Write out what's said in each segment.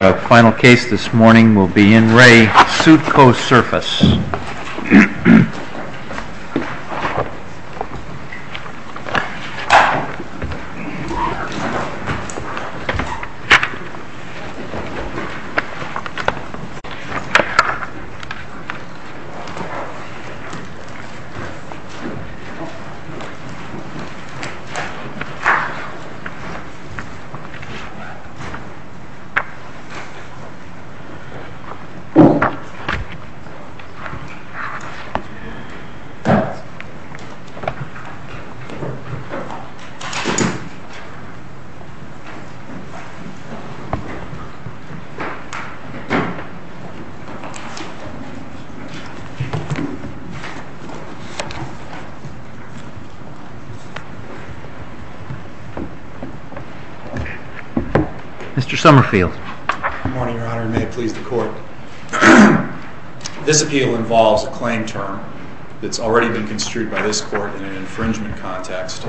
Our final case this morning will be in Re Suitco Surface. Mr. Somerfield. Good morning, Your Honor, and may it please the court. This appeal involves a claim term that's already been construed by this court in an infringement context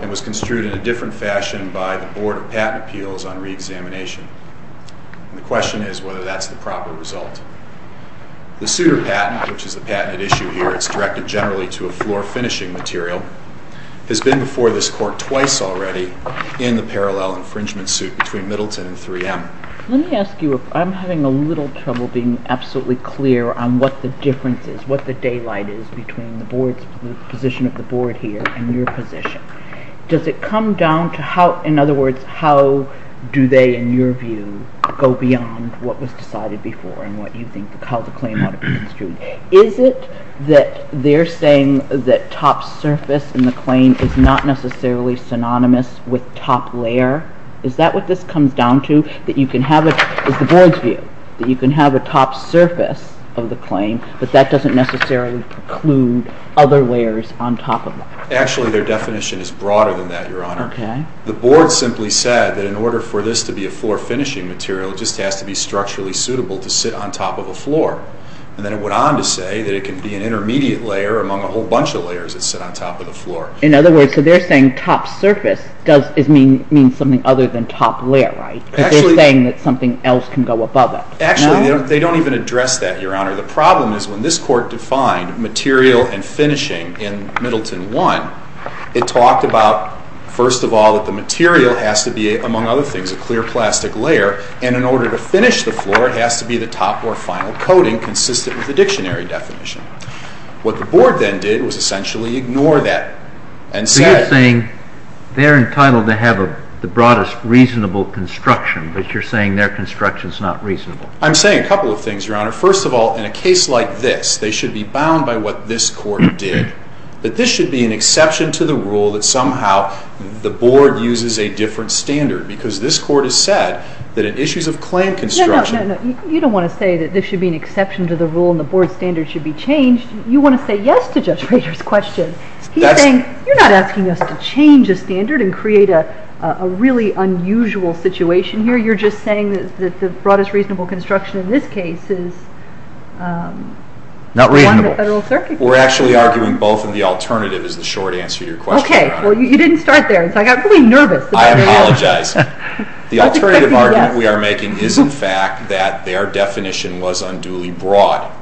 and was construed in a different fashion by the Board of Patent Appeals on reexamination. And the question is whether that's the proper result. The suitor patent, which is the patented issue here, it's directed generally to a floor finishing material, has been before this court twice already in the parallel infringement suit between Middleton and 3M. Let me ask you, I'm having a little trouble being absolutely clear on what the difference is, what the daylight is between the board's position of the board here and your position. Does it come down to how, in other words, how do they, in your view, go beyond what was decided before and what you think how the claim ought to be construed? Is it that they're saying that top surface in the claim is not necessarily synonymous with top layer? Is that what this comes down to, that you can have a top surface of the claim, but that doesn't necessarily preclude other layers on top of that? Actually, their definition is broader than that, Your Honor. The board simply said that in order for this to be a floor finishing material, it just has to be structurally suitable to sit on top of a floor. And then it went on to say that it can be an intermediate layer among a whole bunch of layers that sit on top of the floor. In other words, so they're saying top surface means something other than top layer, right? They're saying that something else can go above it. Actually, they don't even address that, Your Honor. The problem is when this court defined material and finishing in Middleton 1, it talked about, first of all, that the material has to be, among other things, a clear plastic layer, and in order to finish the floor, it has to be the top or final coating consistent with the dictionary definition. What the board then did was essentially ignore that and say— So you're saying they're entitled to have the broadest reasonable construction, but you're saying their construction is not reasonable? I'm saying a couple of things, Your Honor. First of all, in a case like this, they should be bound by what this court did, that this should be an exception to the rule that somehow the board uses a different standard because this court has said that in issues of claim construction— No, no, no. You don't want to say that this should be an exception to the rule and the board standard should be changed. You want to say yes to Judge Rader's question. He's saying you're not asking us to change a standard and create a really unusual situation here. You're just saying that the broadest reasonable construction in this case is— Not reasonable. —one that Federal Circuit— We're actually arguing both, and the alternative is the short answer to your question, Your Honor. Okay. Well, you didn't start there, so I got really nervous. I apologize. The alternative argument we are making is, in fact, that their definition was unduly broad,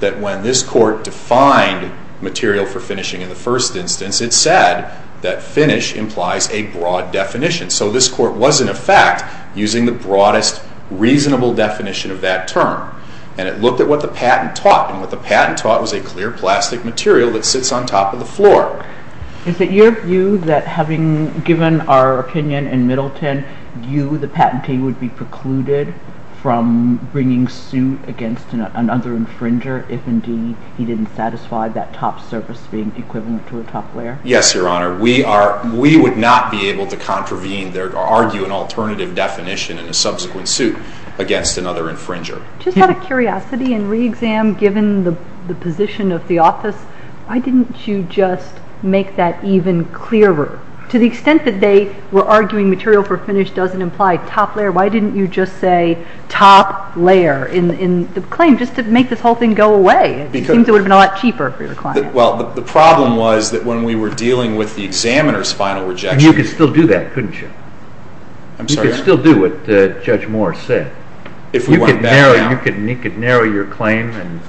that when this court defined material for finishing in the first instance, it said that finish implies a broad definition. So this court was, in effect, using the broadest reasonable definition of that term, and it looked at what the patent taught, and what the patent taught was a clear plastic material that sits on top of the floor. Is it your view that, having given our opinion in Middleton, you, the patentee, would be precluded from bringing suit against another infringer if, indeed, he didn't satisfy that top surface being equivalent to a top layer? Yes, Your Honor. We would not be able to contravene or argue an alternative definition in a subsequent suit against another infringer. Just out of curiosity and re-exam, given the position of the office, why didn't you just make that even clearer? To the extent that they were arguing material for finish doesn't imply top layer, why didn't you just say top layer in the claim, just to make this whole thing go away? It seems it would have been a lot cheaper for your client. Well, the problem was that when we were dealing with the examiner's final rejection— And you could still do that, couldn't you? I'm sorry? You could still do what Judge Moore said. If we went back down— You could narrow your claim and—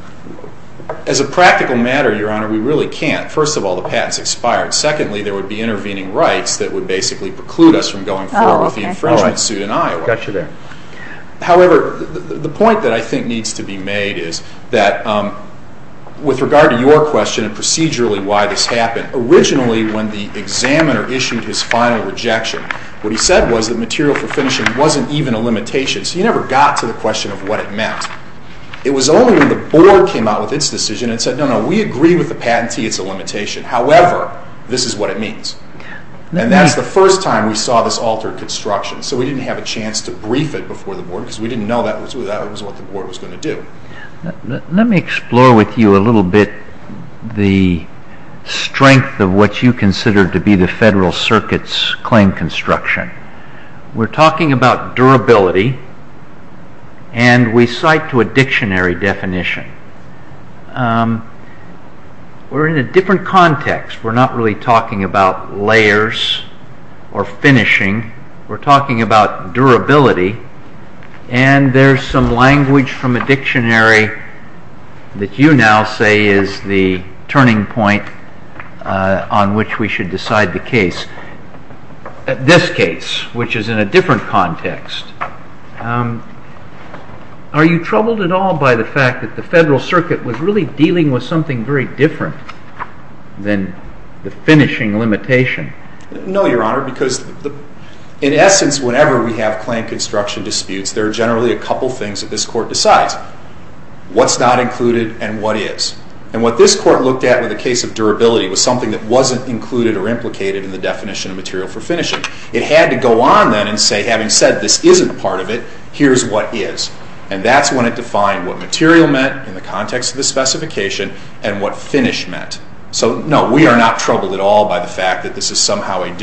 As a practical matter, Your Honor, we really can't. First of all, the patent's expired. Secondly, there would be intervening rights that would basically preclude us from going forward with the infringement suit in Iowa. Got you there. However, the point that I think needs to be made is that with regard to your question and procedurally why this happened, originally when the examiner issued his final rejection, what he said was that material for finishing wasn't even a limitation, so you never got to the question of what it meant. It was only when the Board came out with its decision and said, No, no, we agree with the patentee it's a limitation. However, this is what it means. And that's the first time we saw this altered construction, so we didn't have a chance to brief it before the Board because we didn't know that was what the Board was going to do. Let me explore with you a little bit the strength of what you consider to be the Federal Circuit's claim construction. We're talking about durability and we cite to a dictionary definition. We're in a different context. We're not really talking about layers or finishing. We're talking about durability and there's some language from a dictionary that you now say is the turning point on which we should decide the case. In this case, which is in a different context, are you troubled at all by the fact that the Federal Circuit was really dealing with something very different than the finishing limitation? No, Your Honor, because in essence whenever we have claim construction disputes there are generally a couple things that this Court decides. What's not included and what is. And what this Court looked at with the case of durability was something that wasn't included or implicated in the definition of material for finishing. It had to go on then and say, having said this isn't part of it, here's what is. And that's when it defined what material meant in the context of the specification and what finish meant. So, no, we are not troubled at all by the fact that this is somehow a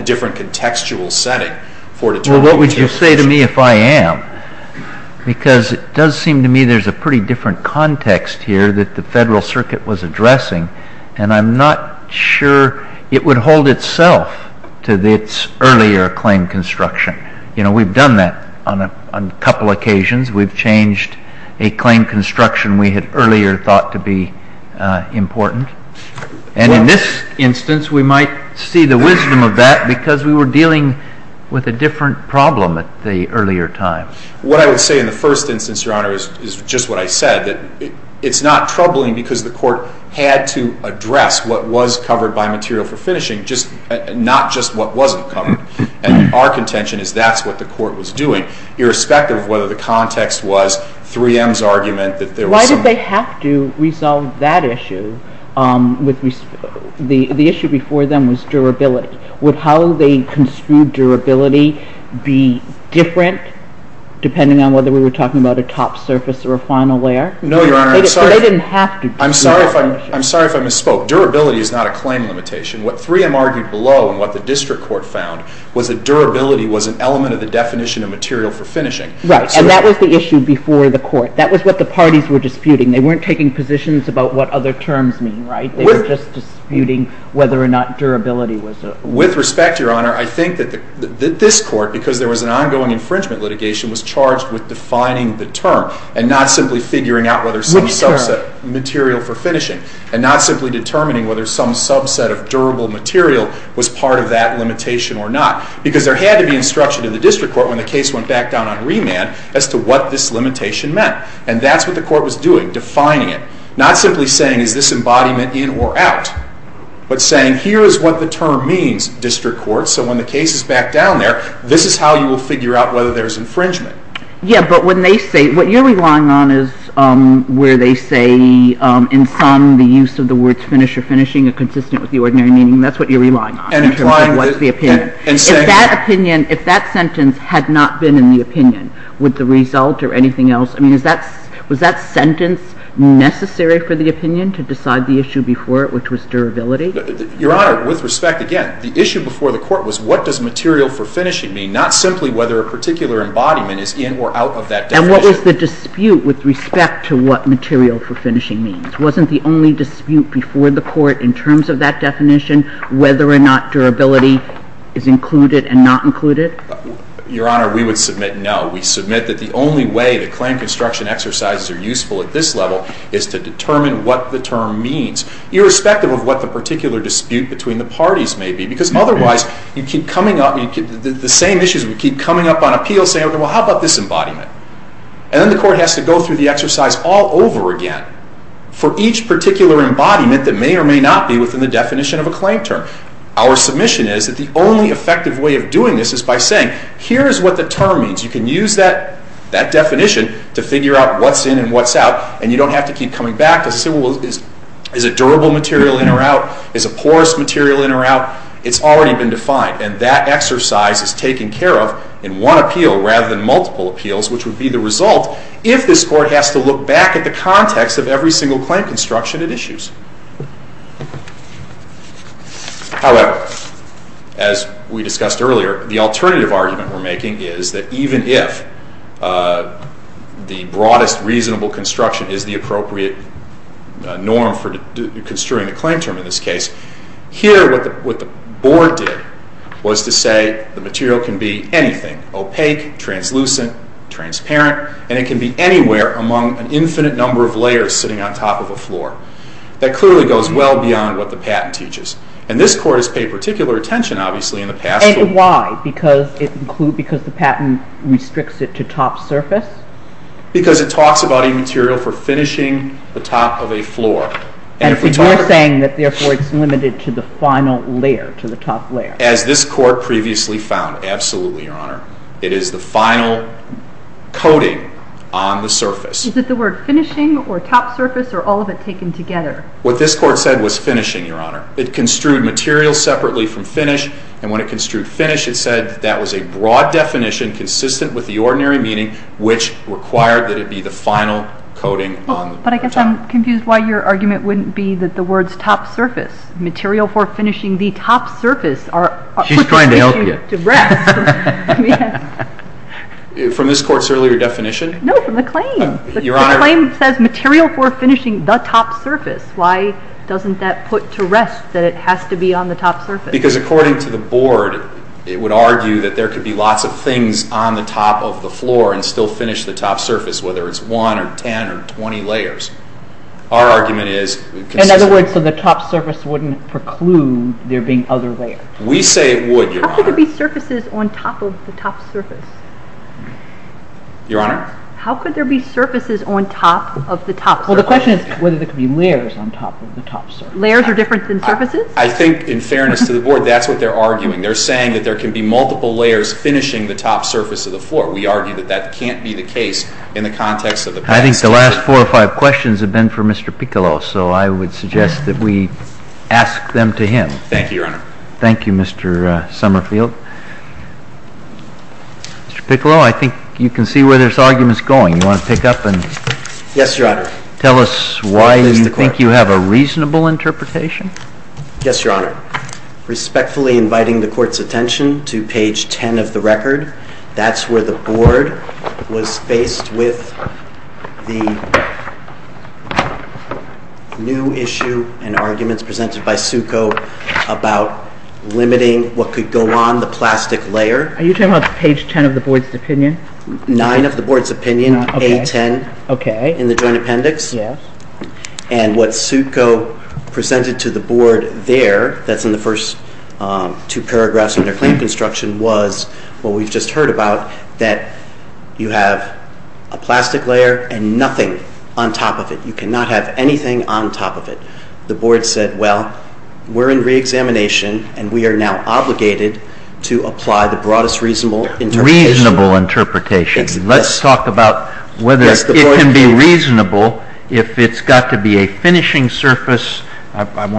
different contextual setting for determining the case. Well, what would you say to me if I am? Because it does seem to me there's a pretty different context here that the Federal Circuit was addressing and I'm not sure it would hold itself to its earlier claim construction. You know, we've done that on a couple occasions. We've changed a claim construction we had earlier thought to be important. And in this instance we might see the wisdom of that because we were dealing with a different problem at the earlier time. What I would say in the first instance, Your Honor, is just what I said, that it's not troubling because the Court had to address what was covered by material for finishing, not just what wasn't covered. And our contention is that's what the Court was doing, irrespective of whether the context was 3M's argument that there was some... Why did they have to resolve that issue? The issue before them was durability. Would how they construed durability be different, depending on whether we were talking about a top surface or a final layer? No, Your Honor. They didn't have to... I'm sorry if I misspoke. Durability is not a claim limitation. What 3M argued below and what the District Court found was that durability was an element of the definition of material for finishing. Right, and that was the issue before the Court. That was what the parties were disputing. They weren't taking positions about what other terms mean, right? They were just disputing whether or not durability was... With respect, Your Honor, I think that this Court, because there was an ongoing infringement litigation, was charged with defining the term and not simply figuring out whether some subset... Which term? Material for finishing, and not simply determining whether some subset of durable material was part of that limitation or not. Because there had to be instruction in the District Court when the case went back down on remand as to what this limitation meant. And that's what the Court was doing, defining it. Not simply saying is this embodiment in or out, but saying here is what the term means, District Court, so when the case is back down there, this is how you will figure out whether there's infringement. Yeah, but when they say... What you're relying on is where they say in sum the use of the words finish or finishing are consistent with the ordinary meaning. That's what you're relying on. And applying what's the opinion. If that sentence had not been in the opinion, would the result or anything else... I mean, was that sentence necessary for the opinion to decide the issue before it, which was durability? Your Honor, with respect, again, the issue before the Court was what does material for finishing mean? Not simply whether a particular embodiment is in or out of that definition. And what was the dispute with respect to what material for finishing means? Wasn't the only dispute before the Court in terms of that definition whether or not durability is included and not included? Your Honor, we would submit no. We submit that the only way that claim construction exercises are useful at this level is to determine what the term means, irrespective of what the particular dispute between the parties may be. Because otherwise, you keep coming up... The same issues, we keep coming up on appeals, saying, well, how about this embodiment? And then the Court has to go through the exercise all over again for each particular embodiment that may or may not be within the definition of a claim term. Our submission is that the only effective way of doing this is by saying, here's what the term means. You can use that definition to figure out what's in and what's out, and you don't have to keep coming back to say, well, is it durable material in or out? Is it porous material in or out? It's already been defined, and that exercise is taken care of in one appeal rather than multiple appeals, which would be the result if this Court has to look back at the context of every single claim construction it issues. However, as we discussed earlier, the alternative argument we're making is that even if the broadest reasonable construction is the appropriate norm for construing the claim term in this case, here what the Board did was to say the material can be anything, opaque, translucent, transparent, and it can be anywhere among an infinite number of layers sitting on top of a floor. That clearly goes well beyond what the patent teaches. And this Court has paid particular attention, obviously, in the past to... And why? Because the patent restricts it to top surface? Because it talks about a material for finishing the top of a floor. And you're saying that therefore it's limited to the final layer, to the top layer. As this Court previously found. Absolutely, Your Honor. It is the final coating on the surface. Is it the word finishing or top surface or all of it taken together? What this Court said was finishing, Your Honor. It construed material separately from finish, and when it construed finish, it said that was a broad definition consistent with the ordinary meaning which required that it be the final coating. But I guess I'm confused why your argument wouldn't be that the words top surface, material for finishing the top surface, are put to rest. She's trying to help you. From this Court's earlier definition? No, from the claim. The claim says material for finishing the top surface. Why doesn't that put to rest that it has to be on the top surface? Because according to the Board, it would argue that there could be lots of things on the top of the floor and still finish the top surface, whether it's one or ten or twenty layers. Our argument is... In other words, so the top surface wouldn't preclude there being other layers. We say it would, Your Honor. How could there be surfaces on top of the top surface? Your Honor? How could there be surfaces on top of the top surface? Well, the question is whether there could be layers on top of the top surface. Layers are different than surfaces? I think, in fairness to the Board, that's what they're arguing. They're saying that there can be multiple layers finishing the top surface of the floor. We argue that that can't be the case in the context of the... I think the last four or five questions have been for Mr. Piccolo, so I would suggest that we ask them to him. Thank you, Your Honor. Thank you, Mr. Summerfield. Mr. Piccolo, I think you can see where this argument's going. You want to pick up and... Yes, Your Honor. Tell us why you think you have a reasonable interpretation? Yes, Your Honor. Respectfully inviting the Court's attention to page ten of the record, that's where the Board was faced with the new issue and arguments presented by Suko about limiting what could go on the plastic layer. Are you talking about page ten of the Board's opinion? Nine of the Board's opinion, A-10 in the Joint Appendix. Yes. And what Suko presented to the Board there, that's in the first two paragraphs of their claim construction, was what we've just heard about, that you have a plastic layer and nothing on top of it. You cannot have anything on top of it. The Board said, well, we're in reexamination and we are now obligated to apply the broadest reasonable interpretation. Reasonable interpretation. Let's talk about whether it can be reasonable if it's got to be a finishing surface. I'm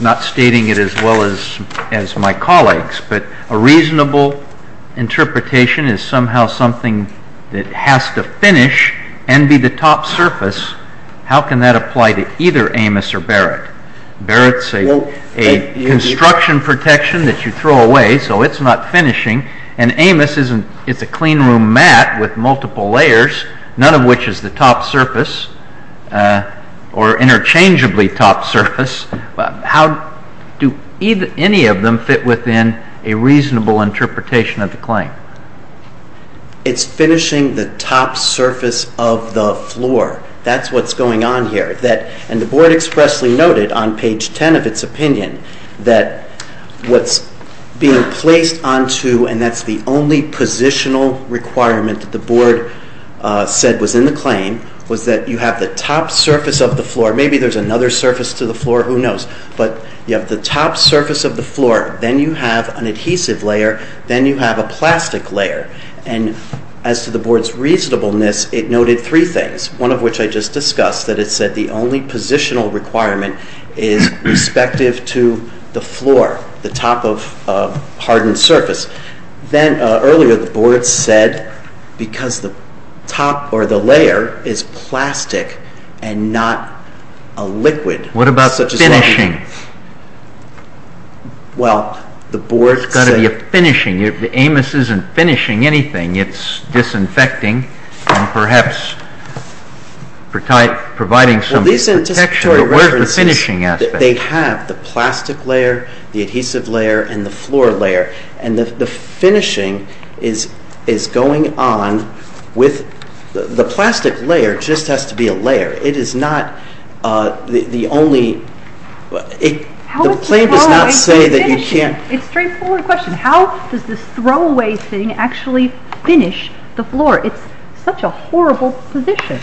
not stating it as well as my colleagues, but a reasonable interpretation is somehow something that has to finish and be the top surface. How can that apply to either Amos or Barrett? Barrett's a construction protection that you throw away, so it's not finishing, and Amos is a clean room mat with multiple layers, none of which is the top surface or interchangeably top surface. How do any of them fit within a reasonable interpretation of the claim? It's finishing the top surface of the floor. That's what's going on here. And the Board expressly noted on page 10 of its opinion that what's being placed onto, and that's the only positional requirement that the Board said was in the claim, was that you have the top surface of the floor, maybe there's another surface to the floor, who knows, but you have the top surface of the floor, then you have an adhesive layer, then you have a plastic layer. And as to the Board's reasonableness, it noted three things, one of which I just discussed, that it said the only positional requirement is respective to the floor, the top of hardened surface. Then earlier the Board said because the top or the layer is plastic and not a liquid. What about finishing? Well, the Board said... It's got to be a finishing. Amos isn't finishing anything. It's disinfecting and perhaps providing some protection. But where's the finishing aspect? They have the plastic layer, the adhesive layer, and the floor layer. And the finishing is going on with... The plastic layer just has to be a layer. It is not the only... The claim does not say that you can't... It's a straightforward question. How does this throwaway thing actually finish the floor? It's such a horrible position.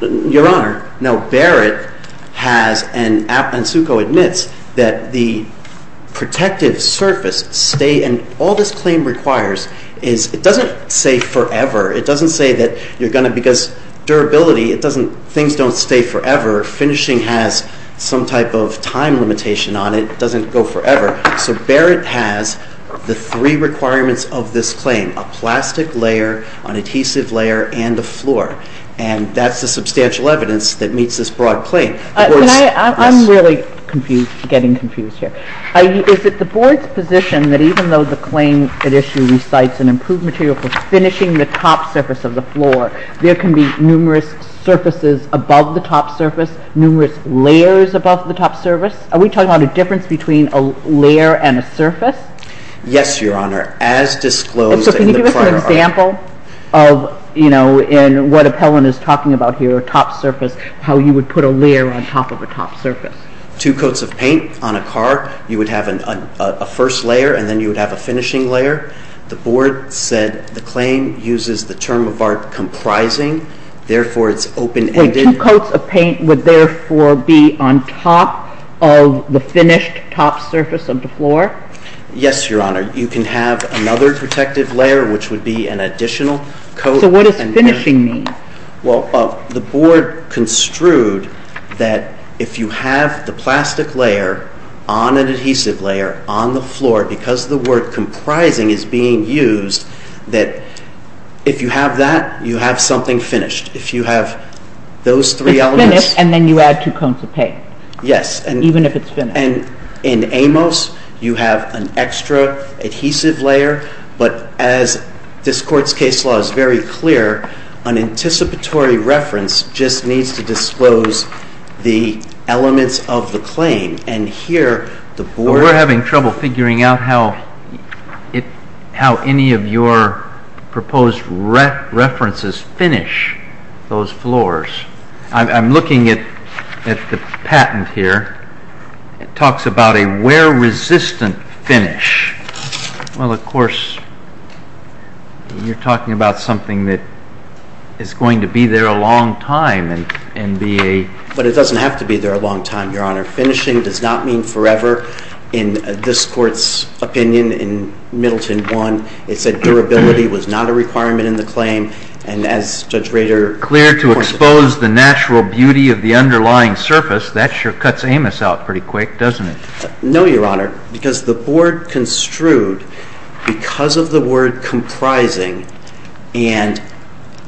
Your Honor, Barrett has, and Ensuco admits, that the protective surface stays... And all this claim requires is... It doesn't say forever. It doesn't say that you're going to... Because durability... Things don't stay forever. Finishing has some type of time limitation on it. It doesn't go forever. So Barrett has the three requirements of this claim. A plastic layer, an adhesive layer, and a floor. And that's the substantial evidence that meets this broad claim. I'm really getting confused here. Is it the Board's position that even though the claim at issue recites an improved material for finishing the top surface of the floor, there can be numerous surfaces above the top surface, numerous layers above the top surface? Are we talking about a difference between a layer and a surface? Yes, Your Honor. As disclosed in the prior... So can you give us an example of, you know, in what Appellant is talking about here, a top surface, how you would put a layer on top of a top surface? Two coats of paint on a car, you would have a first layer, and then you would have a finishing layer. The Board said the claim uses the term of art comprising, therefore it's open-ended... Wait, two coats of paint would therefore be on top of the finished top surface of the floor? Yes, Your Honor. You can have another protective layer, which would be an additional coat... So what does finishing mean? Well, the Board construed that if you have the plastic layer on an adhesive layer, on the floor, because the word comprising is being used, that if you have that, you have something finished. If you have those three elements... It's finished, and then you add two coats of paint. Yes. Even if it's finished. And in Amos, you have an extra adhesive layer, but as this Court's case law is very clear, an anticipatory reference just needs to disclose the elements of the claim, and here the Board... How any of your proposed references finish those floors? I'm looking at the patent here. It talks about a wear-resistant finish. Well, of course, you're talking about something that is going to be there a long time and be a... But it doesn't have to be there a long time, Your Honor. Finishing does not mean forever. In this Court's opinion, in Middleton 1, it said durability was not a requirement in the claim, and as Judge Rader pointed out... Clear to expose the natural beauty of the underlying surface, that sure cuts Amos out pretty quick, doesn't it? No, Your Honor, because the Board construed because of the word comprising, and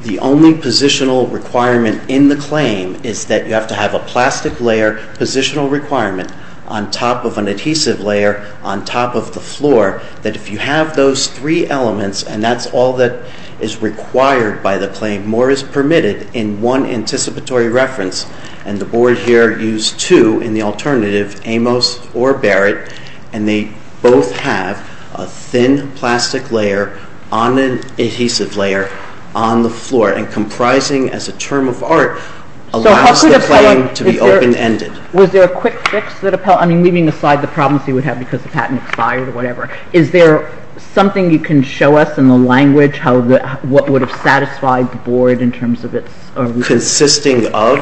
the only positional requirement in the claim is that you have to have a plastic layer positional requirement on top of an adhesive layer on top of the floor, that if you have those three elements, and that's all that is required by the claim, more is permitted in one anticipatory reference, and the Board here used two in the alternative, Amos or Barrett, and they both have a thin plastic layer on an adhesive layer on the floor, and comprising as a term of art allows the claim to be open-ended. Was there a quick fix? I mean, leaving aside the problems he would have because the patent expired or whatever. Is there something you can show us in the language what would have satisfied the Board in terms of its... Consisting of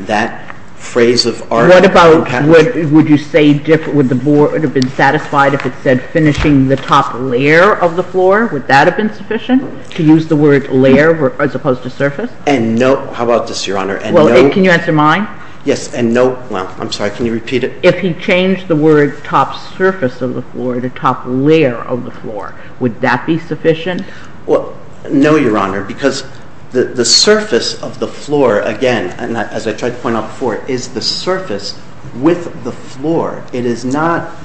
that phrase of art... What about... Would you say would the Board have been satisfied if it said finishing the top layer of the floor? Would that have been sufficient to use the word layer as opposed to surface? And no... How about this, Your Honor? Can you answer mine? Yes, and no... Well, I'm sorry. Can you repeat it? If he changed the word top surface of the floor to top layer of the floor, would that be sufficient? Well, no, Your Honor, because the surface of the floor, again, and as I tried to point out before, is the surface with the floor. It is not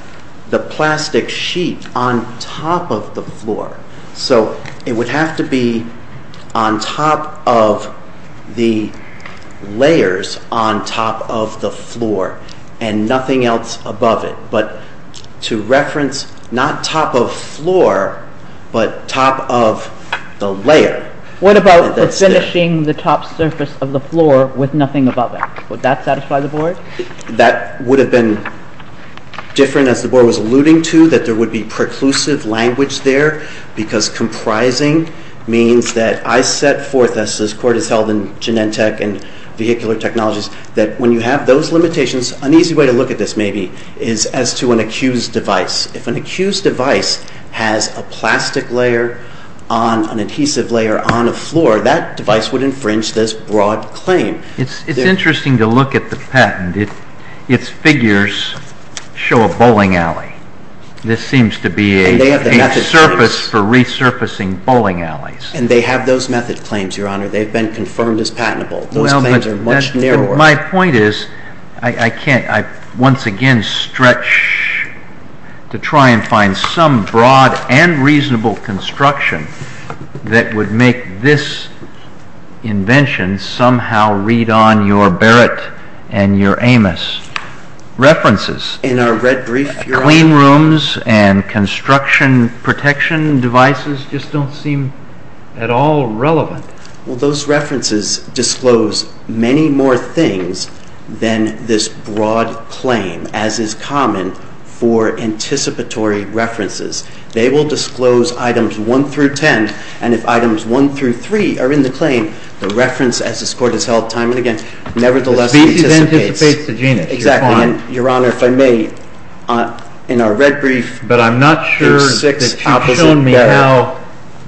the plastic sheet on top of the floor. So it would have to be on top of the layers on top of the floor and nothing else above it. But to reference not top of floor but top of the layer... What about finishing the top surface of the floor with nothing above it? Would that satisfy the Board? That would have been different as the Board was alluding to that there would be preclusive language there because comprising means that I set forth, as this Court has held in Genentech and vehicular technologies, that when you have those limitations, an easy way to look at this, maybe, is as to an accused device. If an accused device has a plastic layer on an adhesive layer on a floor, that device would infringe this broad claim. It's interesting to look at the patent. Its figures show a bowling alley. This seems to be a surface for resurfacing bowling alleys. And they have those method claims, Your Honor. They've been confirmed as patentable. Those claims are much narrower. My point is, I once again stretch to try and find some broad and reasonable construction that would make this invention somehow read on your Barrett and your Amos. References. In our red brief, Your Honor. Clean rooms and construction protection devices just don't seem at all relevant. Well, those references disclose many more things than this broad claim, as is common for anticipatory references. They will disclose items 1 through 10, and if items 1 through 3 are in the claim, the reference, as this Court has held nevertheless, anticipates the genus. Exactly. And, Your Honor, if I may, in our red brief, there are six opposite methods. But I'm not sure that you've shown me how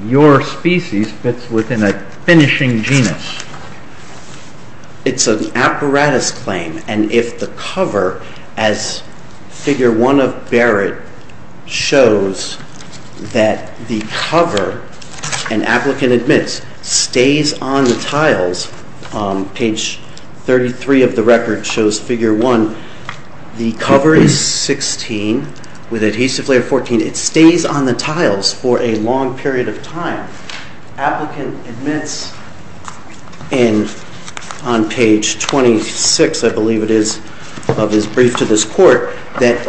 your species fits within a finishing genus. It's an apparatus claim, and if the cover, as Figure 1 of Barrett shows that the cover, an applicant admits, stays on the tiles, page 33 of the record shows Figure 1, the cover is 16 with adhesive layer 14. And it stays on the tiles for a long period of time. Applicant admits in, on page 26, I believe it is, of his brief to this Court, that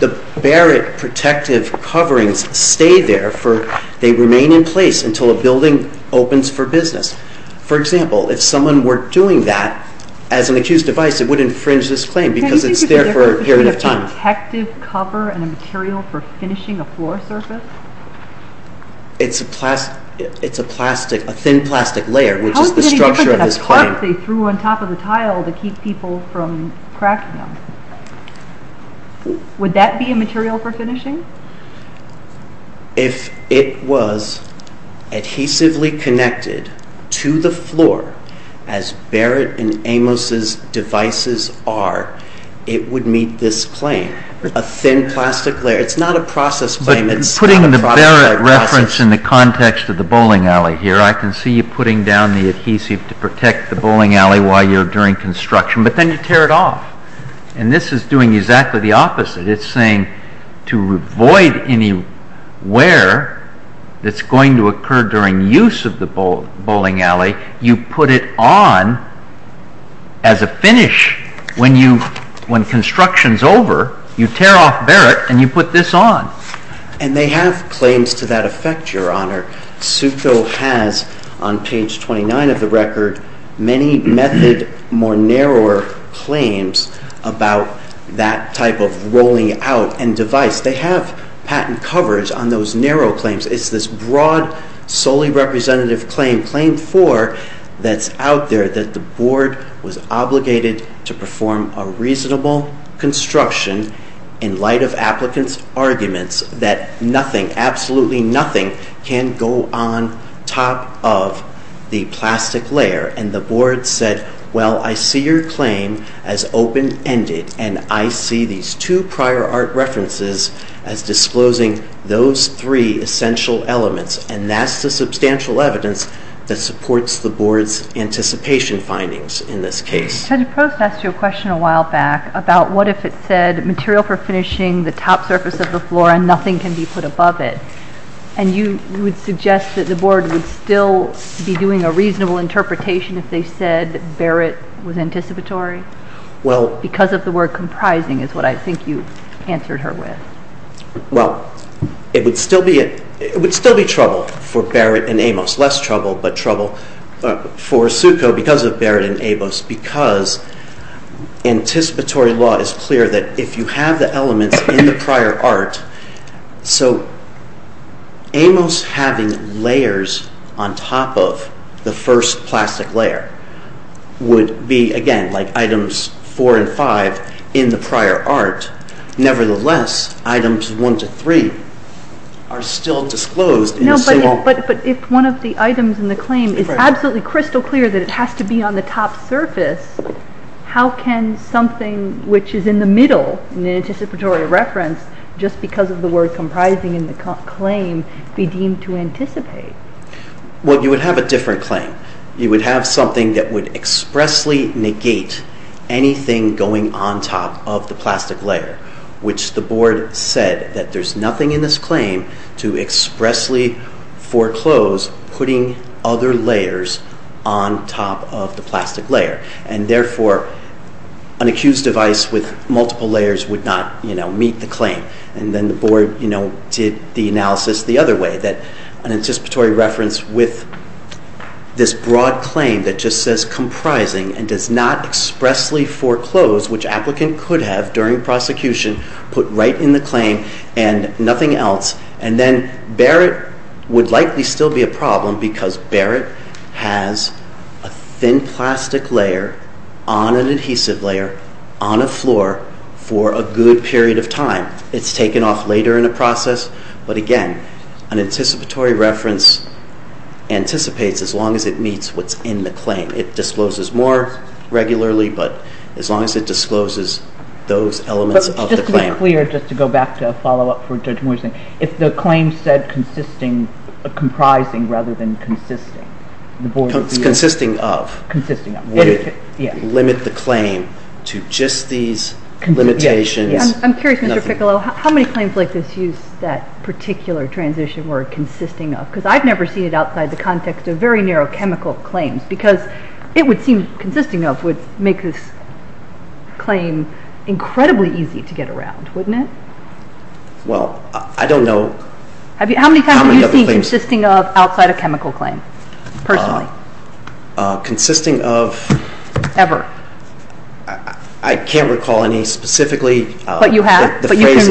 the Barrett protective coverings stay there for, they remain in place until a building opens for business. For example, if someone were doing that, as an accused device, it would infringe this claim because it's there for a period of time. It's a plastic, a thin plastic layer, which is the structure of this claim. Would that be a material for finishing? If it was adhesively connected to the floor, as Barrett and Amos's devices are, it would claim. A thin plastic layer, it's not a process claim. It's not a process claim. But putting the Barrett reference in the context of the bowling alley while you're doing construction, but then you tear it off. And this is doing exactly the opposite. It's saying to avoid anywhere that's going to occur during use of the bowling alley, you put it on as a finish. When construction's over, you tear off Barrett and you put this on. And they have claims to that effect, your honor. Sukho has on page 29 of the record many method more narrower claims about that type of rolling out and device. They have patent coverage on those narrow claims. It's this broad solely representative claim, claim four, that's out there that the board to perform a reasonable construction in light of applicants' arguments that nothing, absolutely nothing, can go on top of the plastic floor and nothing can be put above it. And you would suggest that the board would still be doing a reasonable interpretation if they said Barrett was anticipatory? Because of the word comprising is what I think you answered her with. Well, it would still be trouble for Barrett and Amos, less trouble but trouble for Suko because of Barrett and Amos because anticipatory law is clear that if you have the elements in the prior art so Amos having layers on top of the first plastic layer would be again like items four and five in the prior art nevertheless items one to three are still disclosed. But if one of the items in the claim is absolutely crystal clear that it has to be on the top surface how can something which is in the middle in the anticipatory reference just because of the word comprising in the claim be deemed to anticipate? Well, you would have a different claim. You would have something that would expressly negate anything going on top of the plastic layer which the board said that there's nothing in this claim to expressly foreclose putting other layers on top of the plastic layer and therefore an accused device with multiple layers would not meet the claim and then the board did the analysis the other way that an anticipatory reference with this broad claim that just says comprising and does not expressly foreclose which applicant could have during prosecution put right in the claim and nothing else and then Barrett would likely still be a problem because Barrett has a thin plastic layer on an adhesive layer on a floor for a good period of time it's taken off later in a process but again an anticipatory reference anticipates as long as it meets what's in the claim it discloses more regularly but as long as it discloses those elements of the claim would be clear if the claim said comprising rather than consisting of would limit the claim to just these limitations I'm curious how many claims were consisting of because I've never heard of a chemical claim consisting of ever I can't recall any specifically but you have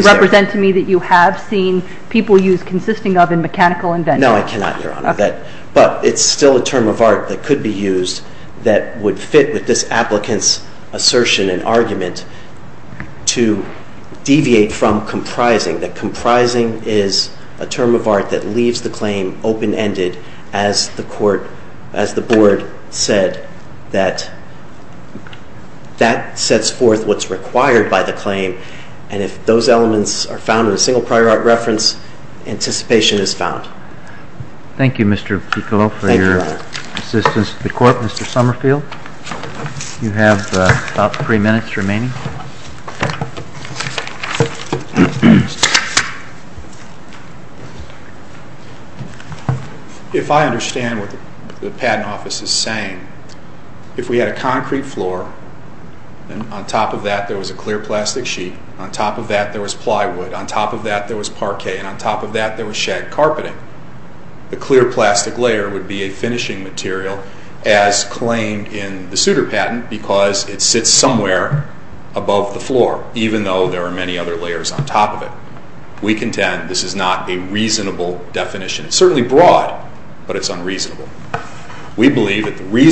represent to me that you have seen people use consisting of in mechanical inventions but it's still a term of art that could be used that would fit with this applicant's assertion and argument to deviate from comprising that comprising is a term of art that leaves the claim open ended as the board said that that sets forth what's in the in the patent office and what's in the patent office is saying if we had a concrete floor and on top of that there was a clear plastic sheet on top of that there was parquet and on top of that there was shag carpeting the clear plastic layer would be a finishing material as claimed in the suitor patent because it sits somewhere above the floor even if was a clear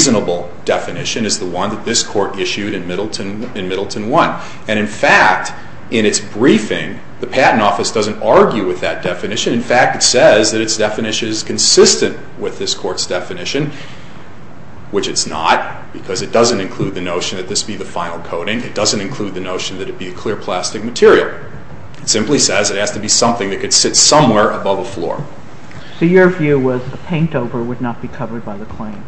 plastic material it simply says it has to be something that could sit somewhere above the floor so your view was a paint over would not be covered by the claim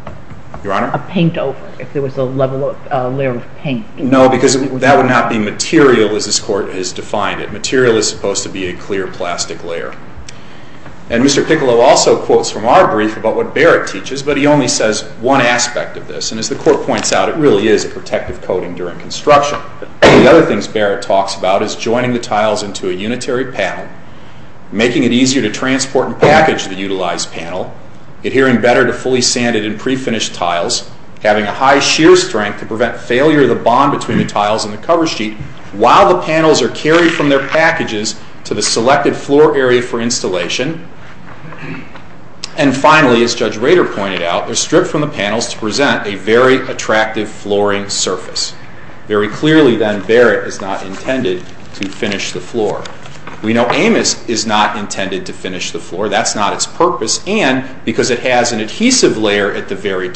a paint over if there was a layer of paint no because that would not be material as this court has defined it material is supposed to be a clear plastic layer and Mr. Piccolo also quotes what Barrett teaches but only says one aspect of this and as the court points out it is a protective coating during construction. The other things Barrett talks about is joining the tiles into a unitary panel making it easier to transport and package the utilized panel adhering better to fully sanded and sanded surface. Very clearly then Barrett is not intended to finish the floor. We know Amos is not intended to finish the floor. That's not its purpose and because it has an unitary it you. Thank you. Thank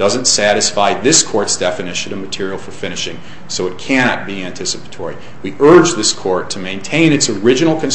you. Thank you. Thank you. Thank you. Thank you. Thank you. Thank Thank you. Thank you. Thank you. Thank you. Thank you. Thank you. Thank you. Thank you.